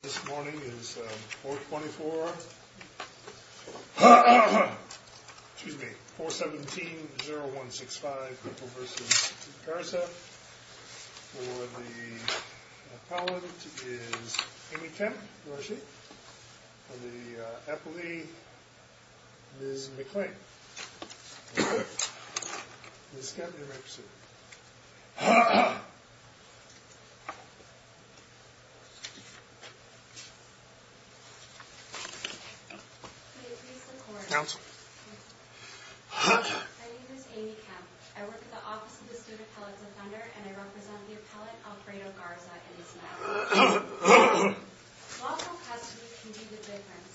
This morning is 424, excuse me, 417-0165, Purple v. Garza. For the appellant is Amy Kemp, who are she? For the appellee, Ms. McClain. Ms. Kemp, you may proceed. May it please the court. Counsel. My name is Amy Kemp. I work at the office of the student appellate defender and I represent the appellate Alfredo Garza and his family. Lawful custody can be the difference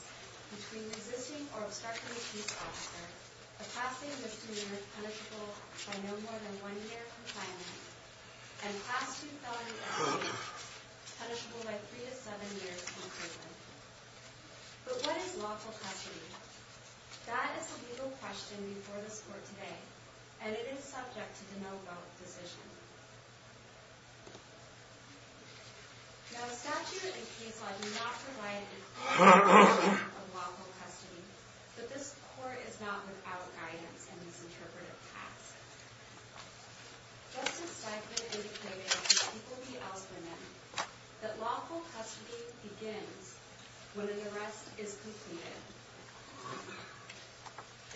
between resisting or obstructing a police officer, a passing misdemeanor punishable by no more than one year of compliance, and a passing felony offense punishable by three to seven years in prison. But what is lawful custody? That is a legal question before this court today, and it is subject to the no-vote decision. Now, statute and case law do not provide a clear definition of lawful custody, but this court is not without guidance in these interpretive facts. Justice Steichman indicated in the people v. Ellspermann that lawful custody begins when an arrest is completed.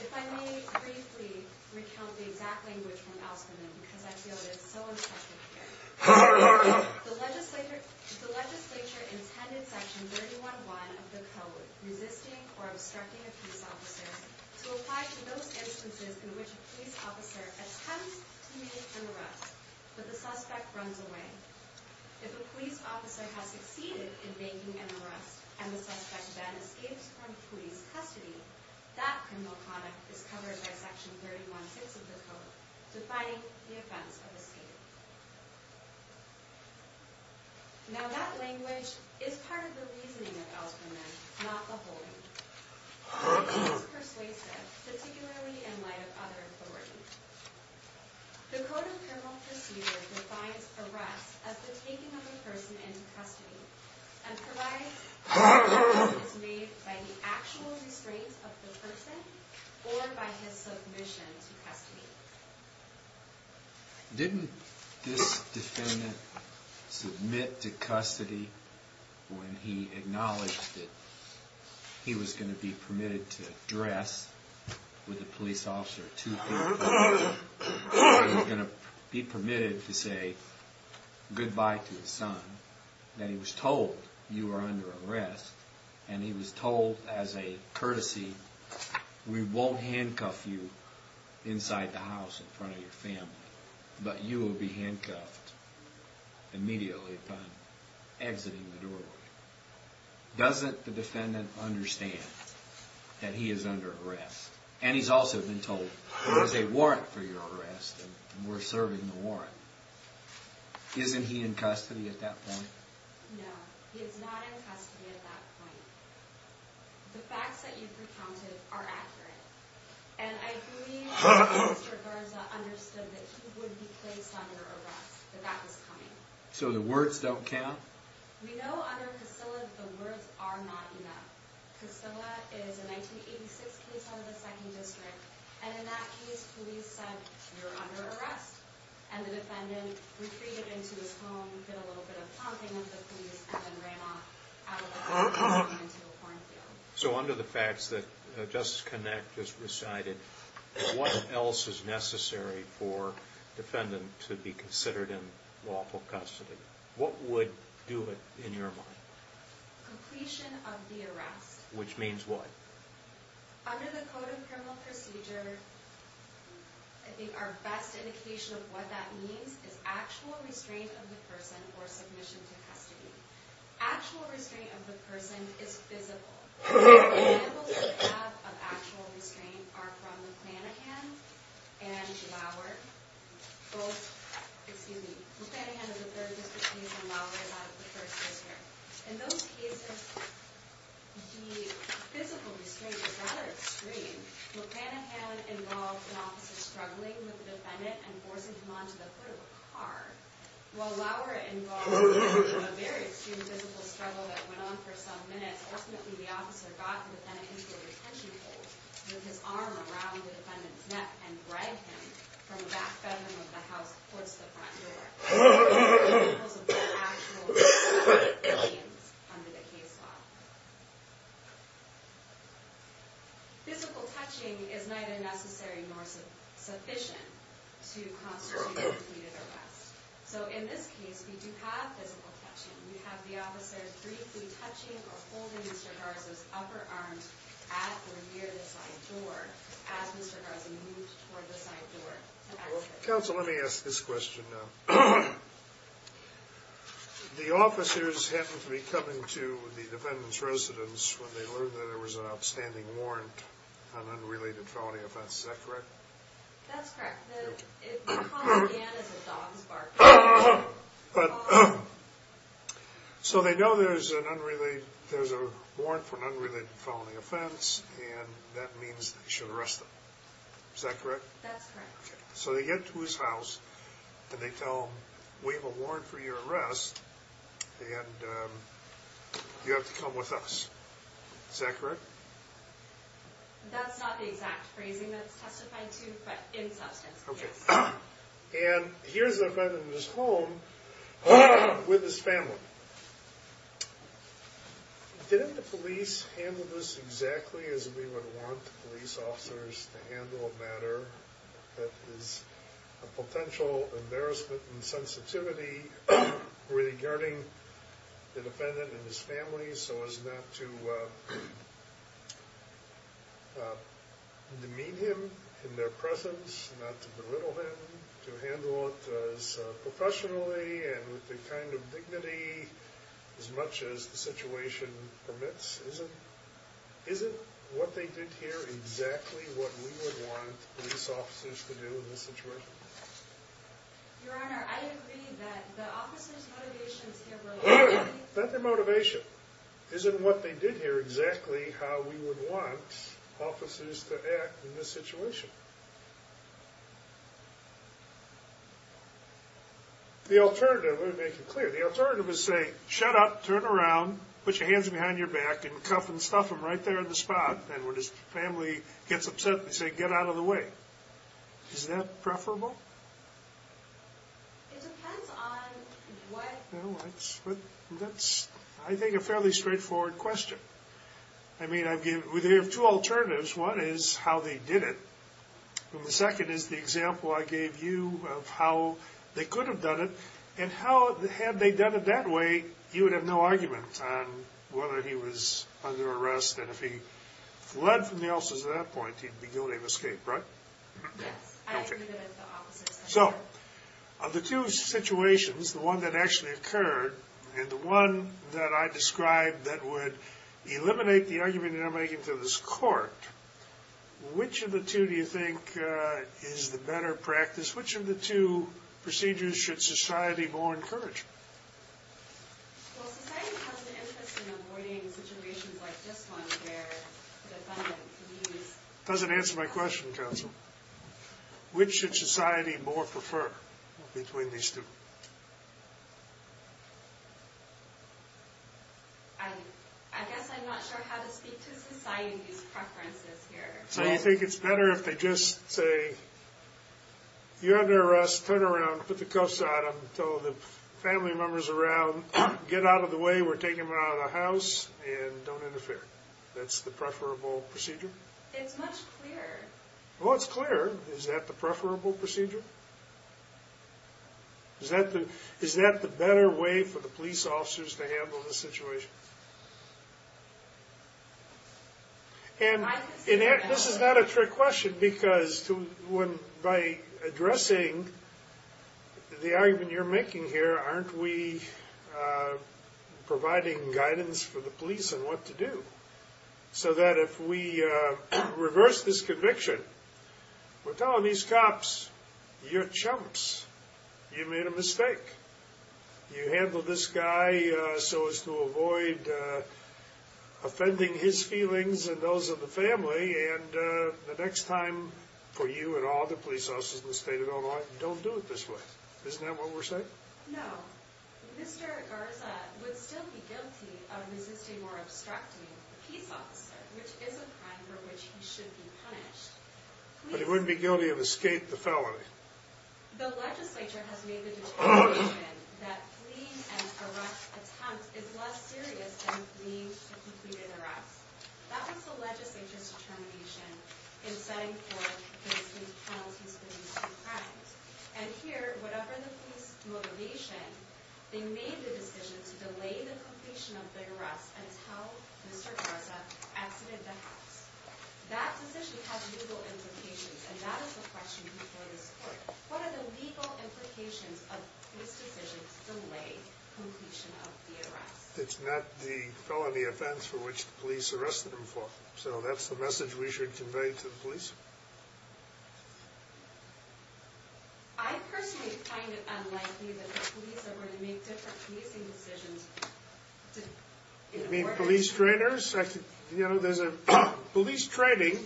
If I may briefly recount the exact language from Ellspermann, because I feel it is so instructive here. The legislature intended Section 311 of the Code resisting or obstructing a police officer to apply to those instances in which a police officer attempts to make an arrest, but the suspect runs away. If a police officer has succeeded in making an arrest and the suspect then escapes from police custody, that criminal conduct is covered by Section 316 of the Code, defining the offense of escape. Now, that language is part of the reasoning of Ellspermann, not the holding. It is persuasive, particularly in light of other authorities. The Code of Criminal Procedure defines arrest as the taking of a person into custody and provides that arrest is made by the actual restraint of the person or by his submission to custody. Didn't this defendant submit to custody when he acknowledged that he was going to be permitted to dress with a police officer two feet apart, that he was going to be permitted to say goodbye to his son, that he was told you were under arrest, and he was told as a courtesy, we won't handcuff you inside the house in front of your family, but you will be handcuffed immediately upon exiting the doorway. Doesn't the defendant understand that he is under arrest? And he's also been told, there is a warrant for your arrest, and we're serving the warrant. Isn't he in custody at that point? No, he is not in custody at that point. The facts that you've recounted are accurate. And I believe Mr. Garza understood that he would be placed under arrest, that that was coming. So the words don't count? We know under Casilla that the words are not enough. Casilla is a 1986 case out of the 2nd District, and in that case, police said, you're under arrest, and the defendant retreated into his home, did a little bit of talking with the police, and then ran off out of the house and into a cornfield. So under the facts that Justice Connacht just recited, what else is necessary for a defendant to be considered in lawful custody? What would do it in your mind? Completion of the arrest. Which means what? Under the Code of Criminal Procedure, I think our best indication of what that means is actual restraint of the person for submission to custody. Actual restraint of the person is physical. Examples we have of actual restraint are from McClanahan and Lauer. Both, excuse me, McClanahan is a 3rd District case, and Lauer is out of the 1st District. In those cases, the physical restraint is rather extreme. McClanahan involved an officer struggling with the defendant and forcing him onto the foot of a car. While Lauer involved a very extreme physical struggle that went on for some minutes, ultimately the officer got the defendant into a retention hold with his arm around the defendant's neck and dragged him from the back bedroom of the house towards the front door. Those are examples of actual restraints under the case law. Physical touching is neither necessary nor sufficient to constitute a completed arrest. So in this case, we do have physical touching. We have the officer briefly touching or holding Mr. Garza's upper arm at or near the side door as Mr. Garza moved toward the side door to exit. Counsel, let me ask this question now. The officers happen to be coming to the defendant's residence when they learned that there was an outstanding warrant on unrelated felony offense, is that correct? That's correct. We call it a scan as a dog's bark. So they know there's a warrant for an unrelated felony offense, and that means they should arrest them, is that correct? That's correct. So they get to his house and they tell him, we have a warrant for your arrest and you have to come with us. Is that correct? That's not the exact phrasing that's testified to, but in substance, yes. And here's the defendant in his home with his family. Didn't the police handle this exactly as we would want police officers to handle a matter that is a potential embarrassment in sensitivity regarding the defendant and his family so as not to demean him in their presence, not to belittle him, to handle it as professionally and with the kind of dignity as much as the situation permits? Isn't what they did here exactly what we would want police officers to do in this situation? Your Honor, I agree that the officers' motivations here were... Not their motivation. Isn't what they did here exactly how we would want officers to act in this situation? The alternative, let me make it clear, the alternative is saying, shut up, turn around, put your hands behind your back and cuff and stuff him right there on the spot. And when his family gets upset, they say, get out of the way. Is that preferable? It depends on what... That's, I think, a fairly straightforward question. I mean, they have two alternatives. One is how they did it. And the second is the example I gave you of how they could have done it and how, had they done it that way, you would have no argument on whether he was under arrest and if he fled from the officers at that point, he'd be guilty of escape, right? Yes, I agree that the officers... So, of the two situations, the one that actually occurred and the one that I described that would eliminate the argument that I'm making to this Court, which of the two do you think is the better practice? Which of the two procedures should society more encourage? Well, society has an interest in avoiding situations like this one where the defendant leaves... Doesn't answer my question, counsel. Which should society more prefer between these two? I guess I'm not sure how to speak to society's preferences here. So you think it's better if they just say, you're under arrest, turn around, put the cuffs on him, tell the family members around, get out of the way, we're taking him out of the house, and don't interfere. That's the preferable procedure? It's much clearer. Well, it's clearer. Is that the preferable procedure? Is that the better way for the police officers to handle the situation? And this is not a trick question, because by addressing the argument you're making here, aren't we providing guidance for the police on what to do? So that if we reverse this conviction, we're telling these cops, you're chumps, you made a mistake. You handled this guy so as to avoid offending his feelings and those of the family, and the next time for you and all the police officers in the state of Illinois, don't do it this way. Isn't that what we're saying? But he wouldn't be guilty of escape the felony. The argument that fleeing an arrest attempt is less serious than fleeing a completed arrest. That was the legislature's determination in setting forth the state's penalties for these crimes. And here, whatever the police motivation, they made the decision to delay the completion of the arrest until Mr. Garza exited the house. That decision has legal implications, and that is the question before this court. What are the legal implications of this decision to delay completion of the arrest? It's not the felony offense for which the police arrested him for. So that's the message we should convey to the police? I personally find it unlikely that the police are going to make different policing decisions. You mean police trainers? You know, there's a police training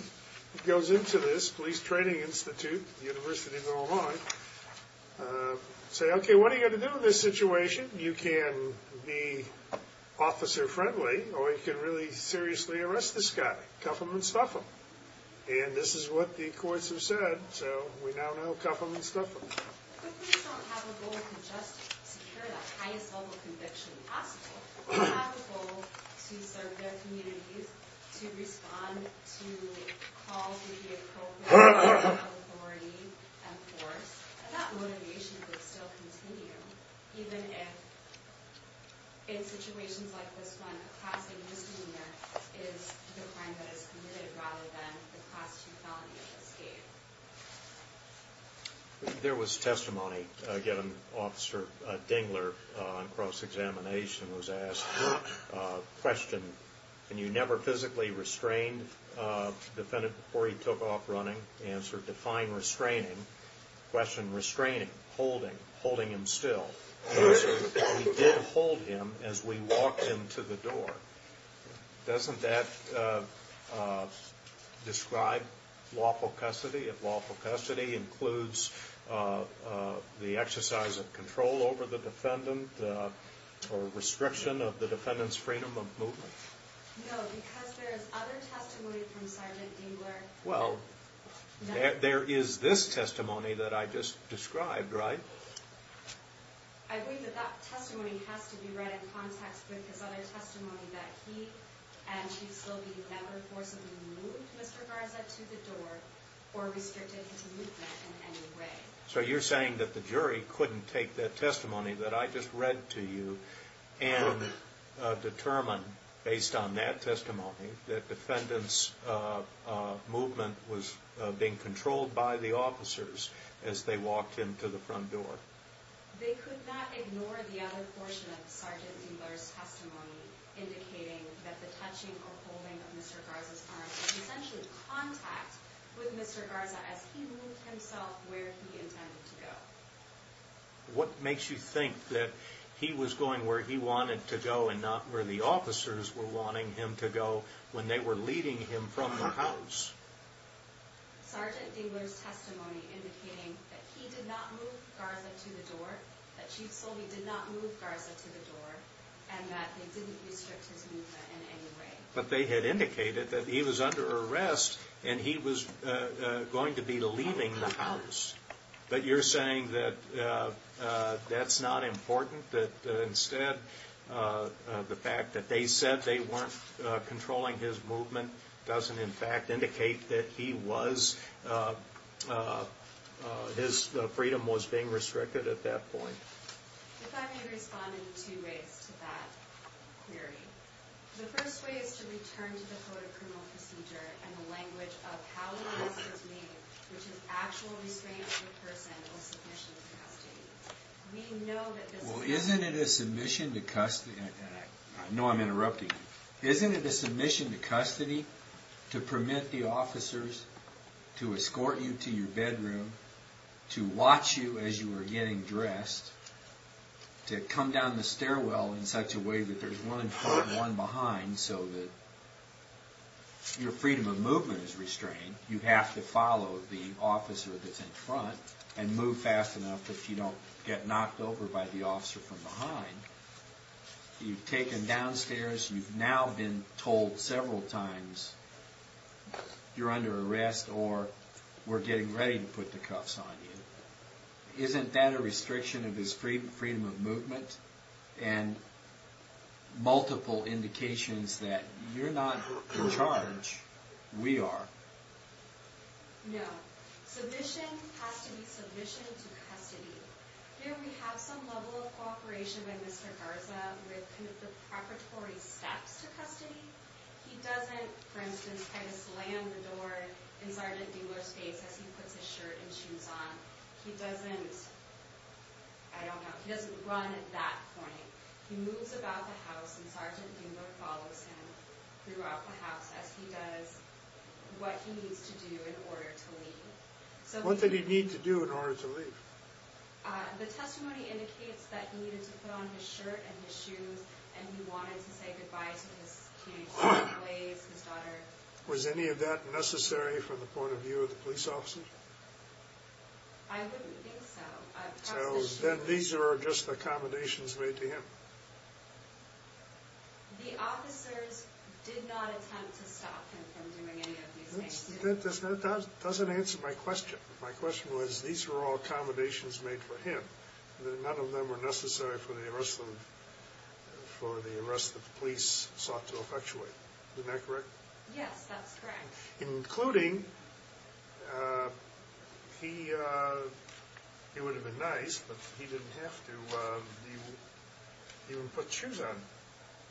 that goes into this, Police Training Institute, University of Illinois. Say, okay, what are you going to do in this situation? You can be officer-friendly, or you can really seriously arrest this guy. Cuff him and stuff him. And this is what the courts have said, so we now know cuff him and stuff him. ...to respond to calls with the appropriate authority and force. And that motivation could still continue, even if, in situations like this one, a class A misdemeanor is the crime that is committed rather than the class 2 felony that was gave. There was testimony, again, Officer Dingler, on cross-examination, was asked, question, can you never physically restrain the defendant before he took off running? Answer, define restraining. Question, restraining, holding, holding him still. Answer, we did hold him as we walked him to the door. Doesn't that describe lawful custody? If lawful custody includes the exercise of control over the defendant or restriction of the defendant's freedom of movement? No, because there is other testimony from Sergeant Dingler. Well, there is this testimony that I just described, right? I believe that that testimony has to be read in context with his other testimony that he and Chief Slobey never forcibly moved Mr. Garza to the door or restricted his movement in any way. So you're saying that the jury couldn't take that testimony that I just read to you and determine, based on that testimony, that defendant's movement was being controlled by the officers as they walked him to the front door. They could not ignore the other portion of Sergeant Dingler's testimony indicating that the touching or holding of Mr. Garza's arm was essentially contact with Mr. Garza as he moved himself where he intended to go. What makes you think that he was going where he wanted to go and not where the officers were wanting him to go when they were leading him from the house? Sergeant Dingler's testimony indicating that he did not move Garza to the door, that Chief Slobey did not move Garza to the door, and that they didn't restrict his movement in any way. But they had indicated that he was under arrest and he was going to be leaving the house. But you're saying that that's not important, that instead the fact that they said they weren't controlling his movement doesn't in fact indicate that he was, his freedom was being restricted at that point. If I may respond in two ways to that, Mary. The first way is to return to the Code of Criminal Procedure and the language of how the arrest was made, which is actual restraint of the person or submission to custody. We know that this is not... Well, isn't it a submission to custody, and I know I'm interrupting you. Isn't it a submission to custody to permit the officers to escort you to your bedroom, to watch you as you were getting dressed, to come down the stairwell in such a way that there's one in front and one behind so that your freedom of movement is restrained. You have to follow the officer that's in front and move fast enough that you don't get knocked over by the officer from behind. You've taken downstairs, you've now been told several times, you're under arrest or we're getting ready to put the cuffs on you. Isn't that a restriction of his freedom of movement and multiple indications that you're not in charge, we are? No. Submission has to be submission to custody. Here we have some level of cooperation with Mr. Garza with the preparatory steps to custody. He doesn't, for instance, try to slam the door inside a dealer's face as he puts his shirt and shoes on. He doesn't, I don't know, he doesn't run at that point. He moves about the house and Sgt. Gingrich follows him throughout the house as he does what he needs to do in order to leave. What did he need to do in order to leave? The testimony indicates that he needed to put on his shirt and his shoes and he wanted to say goodbye to his community colleagues, his daughter. Was any of that necessary from the point of view of the police officers? I wouldn't think so. Then these are just accommodations made to him. The officers did not attempt to stop him from doing any of these things. That doesn't answer my question. My question was, these were all accommodations made for him and none of them were necessary for the arrest of the police sought to effectuate. Isn't that correct? Yes, that's correct. Including, he would have been nice, but he didn't have to even put shoes on,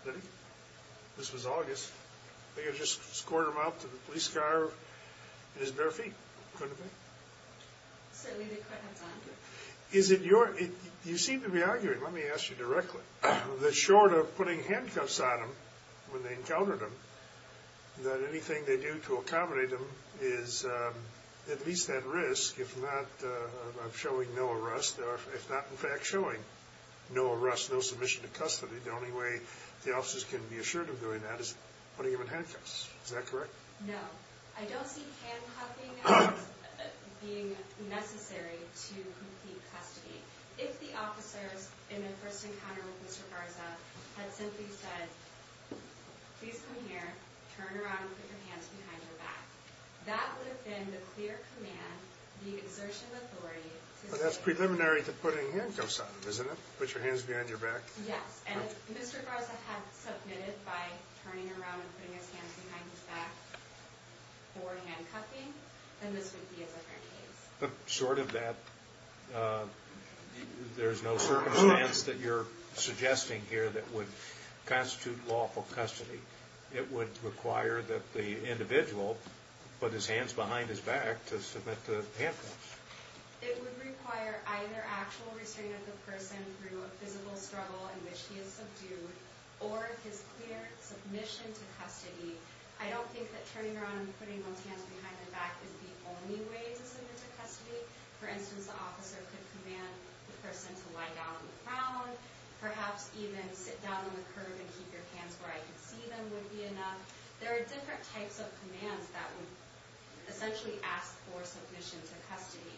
did he? This was August. They could have just scored him out to the police car in his bare feet, couldn't they? Certainly they could have done. Is it your, you seem to be arguing, let me ask you directly, that short of putting handcuffs on him when they encountered him, that anything they do to accommodate him is at least at risk of showing no arrest, if not in fact showing no arrest, no submission to custody. The only way the officers can be assured of doing that is putting him in handcuffs. Is that correct? No. I don't see handcuffing as being necessary to complete custody. If the officers in their first encounter with Mr. Garza had simply said, please come here, turn around and put your hands behind your back, that would have been the clear command, the exertion of authority. But that's preliminary to putting handcuffs on him, isn't it? Put your hands behind your back? Yes. And if Mr. Garza had submitted by turning around and putting his hands behind his back for handcuffing, then this would be a different case. But short of that, there's no circumstance that you're suggesting here that would constitute lawful custody. It would require that the individual put his hands behind his back to submit to handcuffs. It would require either actual restraint of the person through a physical struggle in which he is subdued or his clear submission to custody. I don't think that turning around and putting one's hands behind their back is the only way to submit to custody. For instance, the officer could command the person to lie down on the ground, perhaps even sit down on the curb and keep your hands where I can see them would be enough. There are different types of commands that would essentially ask for submission to custody.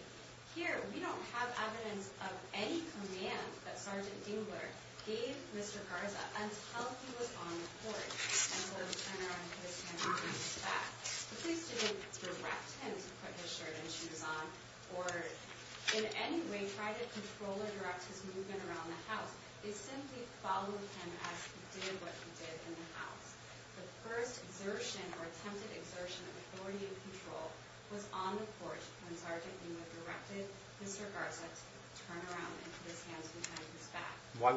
Here, we don't have evidence of any command that Sergeant Dingler gave Mr. Garza until he was on the court and told him to turn around and put his hands behind his back. The police didn't direct him to put his shirt and shoes on or in any way try to control or direct his movement around the house. They simply followed him as he did what he did in the house. The first exertion or attempted exertion of authority and control was on the court when Sergeant Dingler directed Mr. Garza to turn around and put his hands behind his back. Why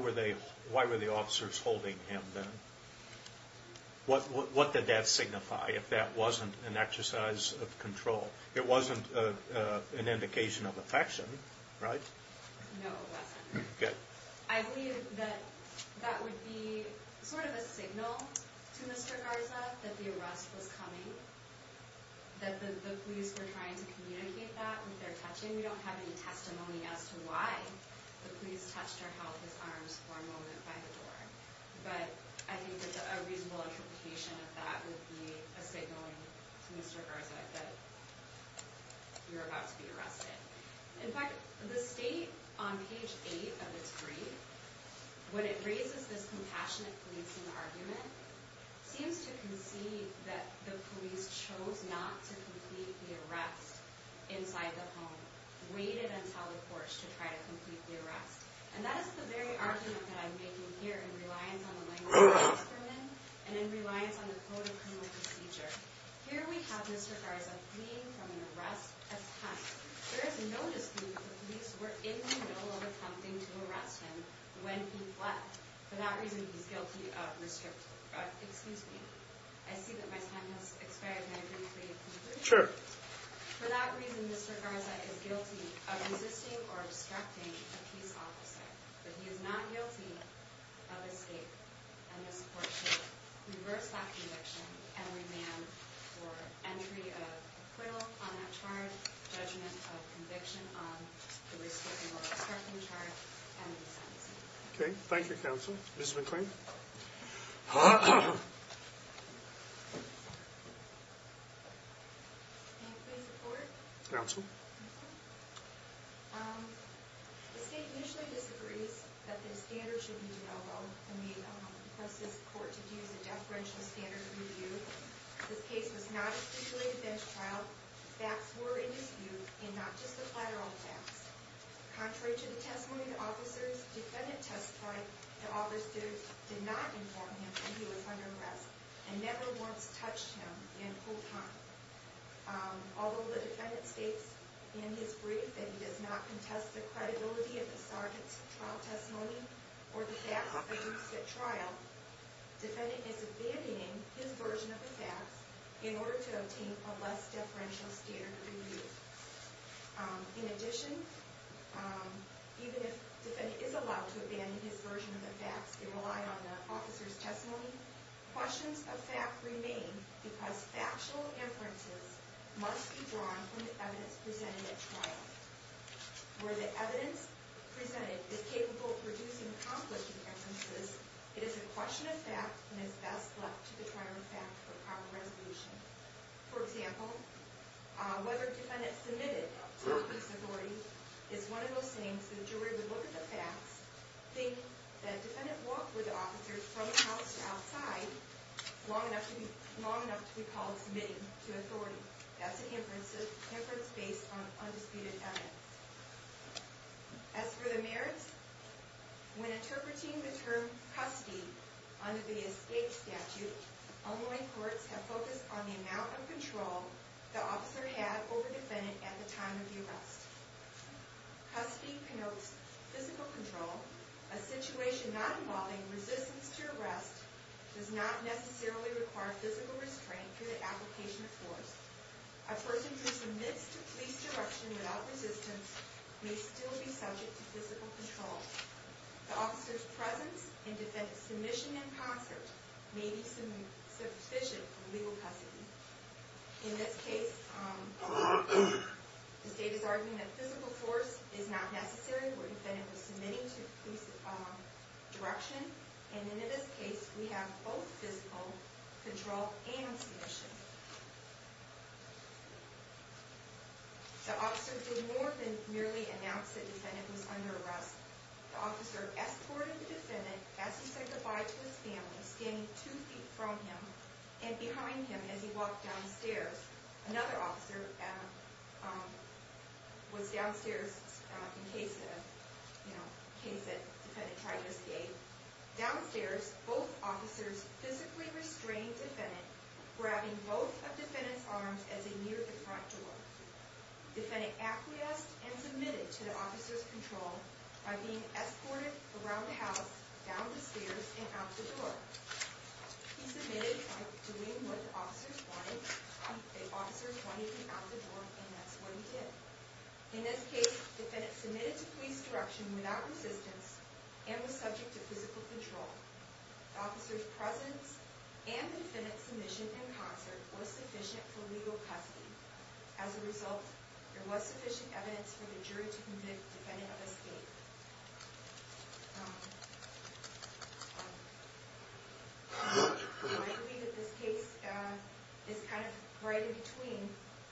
were the officers holding him then? What did that signify if that wasn't an exercise of control? It wasn't an indication of affection, right? No, it wasn't. Good. I believe that that would be sort of a signal to Mr. Garza that the arrest was coming, that the police were trying to communicate that with their touching. We don't have any testimony as to why the police touched or held his arms for a moment by the door. But I think that a reasonable interpretation of that would be a signal to Mr. Garza that you're about to be arrested. In fact, the state on page 8 of its brief, when it raises this compassionate policing argument, seems to concede that the police chose not to complete the arrest inside the home, waited until the court to try to complete the arrest. And that is the very argument that I'm making here in reliance on the language of the experiment and in reliance on the code of criminal procedure. Here we have Mr. Garza fleeing from an arrest attempt. There is no dispute that the police were in the middle of attempting to arrest him when he fled. For that reason, he's guilty of restricting... Excuse me. I see that my time has expired and I didn't complete it. Sure. For that reason, Mr. Garza is guilty of resisting or distracting a police officer. But he is not guilty of escape. And this court should reverse that conviction and remand for entry of acquittal on that charge, judgment of conviction on the restricting or distracting charge, and the sentence. Okay. Thank you, counsel. Ms. McClain. Counsel. Although the defendant states in his brief that he does not contest the credibility of the sergeant's trial testimony or the facts that he used at trial, defendant is abandoning his version of the facts in order to obtain a less deferential standard review. In addition, even if defendant is allowed to abandon his version of the facts and rely on the officer's testimony, questions of fact remain because factual inferences must be drawn from the evidence presented at trial. Where the evidence presented is capable of producing conflicting inferences, it is a question of fact and is best left to the trial in fact for proper resolution. For example, whether defendant submitted to the police authority is one of those things that a jury would look at the facts, think that defendant walked with the officer from house to outside long enough to be called submitting to authority. That's an inference based on undisputed evidence. As for the merits, when interpreting the term custody under the escape statute, online courts have focused on the amount of control the officer had over defendant at the time of the arrest. Custody connotes physical control. A situation not involving resistance to arrest does not necessarily require physical restraint through the application of force. A person who submits to police direction without resistance may still be subject to physical control. The officer's presence in defendant's submission in concert may be sufficient for legal custody. In this case, the state is arguing that physical force is not necessary where defendant was submitting to police direction, and in this case we have both physical control and submission. The officer did more than merely announce that defendant was under arrest. The officer escorted the defendant as he said goodbye to his family, standing two feet from him and behind him as he walked downstairs. Another officer was downstairs in case defendant tried to escape. Downstairs, both officers physically restrained defendant, grabbing both of defendant's arms as they neared the front door. Defendant acquiesced and submitted to the officer's control by being escorted around the house, down the stairs, and out the door. He submitted by doing what the officers wanted, and that's what he did. In this case, defendant submitted to police direction without resistance and was subject to physical control. The officer's presence and the defendant's submission in concert was sufficient for legal custody. As a result, there was sufficient evidence for the jury to convict defendant of escape. I believe that this case is kind of right in between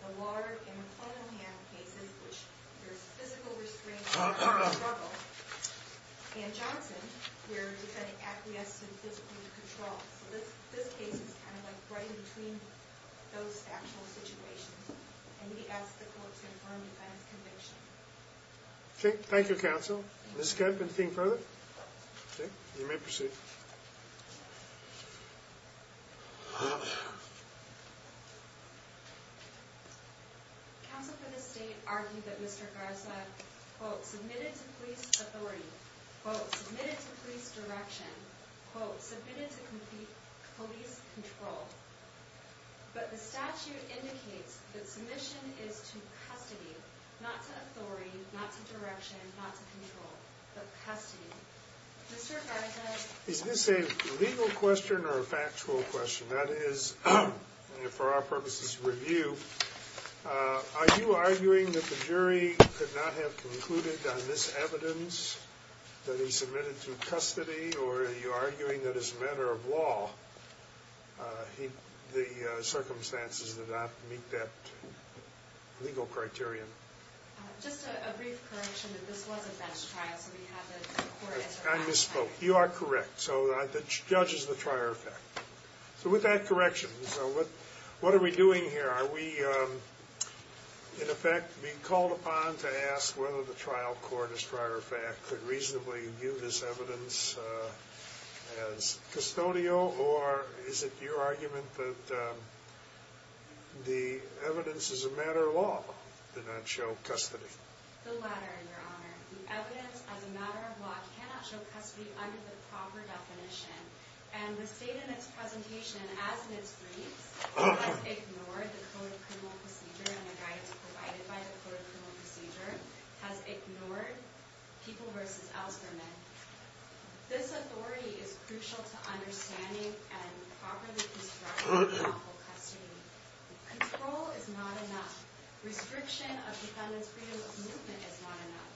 the Ward and McClellan cases, in which there's physical restraint and armed struggle, and Johnson, where defendant acquiesced and physically controlled. So this case is kind of like right in between those factual situations. And we ask the court to confirm defendant's conviction. Okay, thank you, counsel. Ms. Kemp, anything further? Okay, you may proceed. Counsel for the State argued that Mr. Garza, quote, submitted to police authority, quote, submitted to police direction, quote, submitted to police control. But the statute indicates that submission is to custody, not to authority, not to direction, not to control, but custody. Mr. Garza- Is this a legal question or a factual question? That is, for our purposes of review, are you arguing that the jury could not have concluded on this evidence that he submitted to custody, or are you arguing that as a matter of law, the circumstances did not meet that legal criterion? Just a brief correction that this was a bench trial, so we have the court answer- I misspoke. You are correct. So the judge is the trier of fact. So with that correction, what are we doing here? Are we, in effect, being called upon to ask whether the trial court, as trier of fact, could reasonably view this evidence as custodial, or is it your argument that the evidence as a matter of law did not show custody? The latter, Your Honor. The evidence as a matter of law cannot show custody under the proper definition. And the state in its presentation, as in its briefs, has ignored the Code of Criminal Procedure and the guidance provided by the Code of Criminal Procedure, has ignored people versus alzheimer's. This authority is crucial to understanding and properly constructing lawful custody. Control is not enough. Restriction of defendant's freedom of movement is not enough.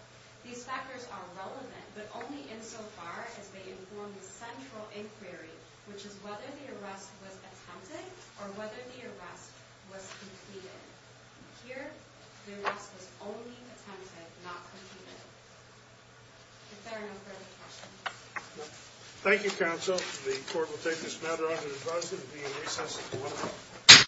These factors are relevant, but only insofar as they inform the central inquiry, which is whether the arrest was attempted or whether the arrest was completed. Here, the arrest was only attempted, not completed. If there are no further questions. Thank you, counsel. The court will take this matter under advisory to be in recess until 1 o'clock.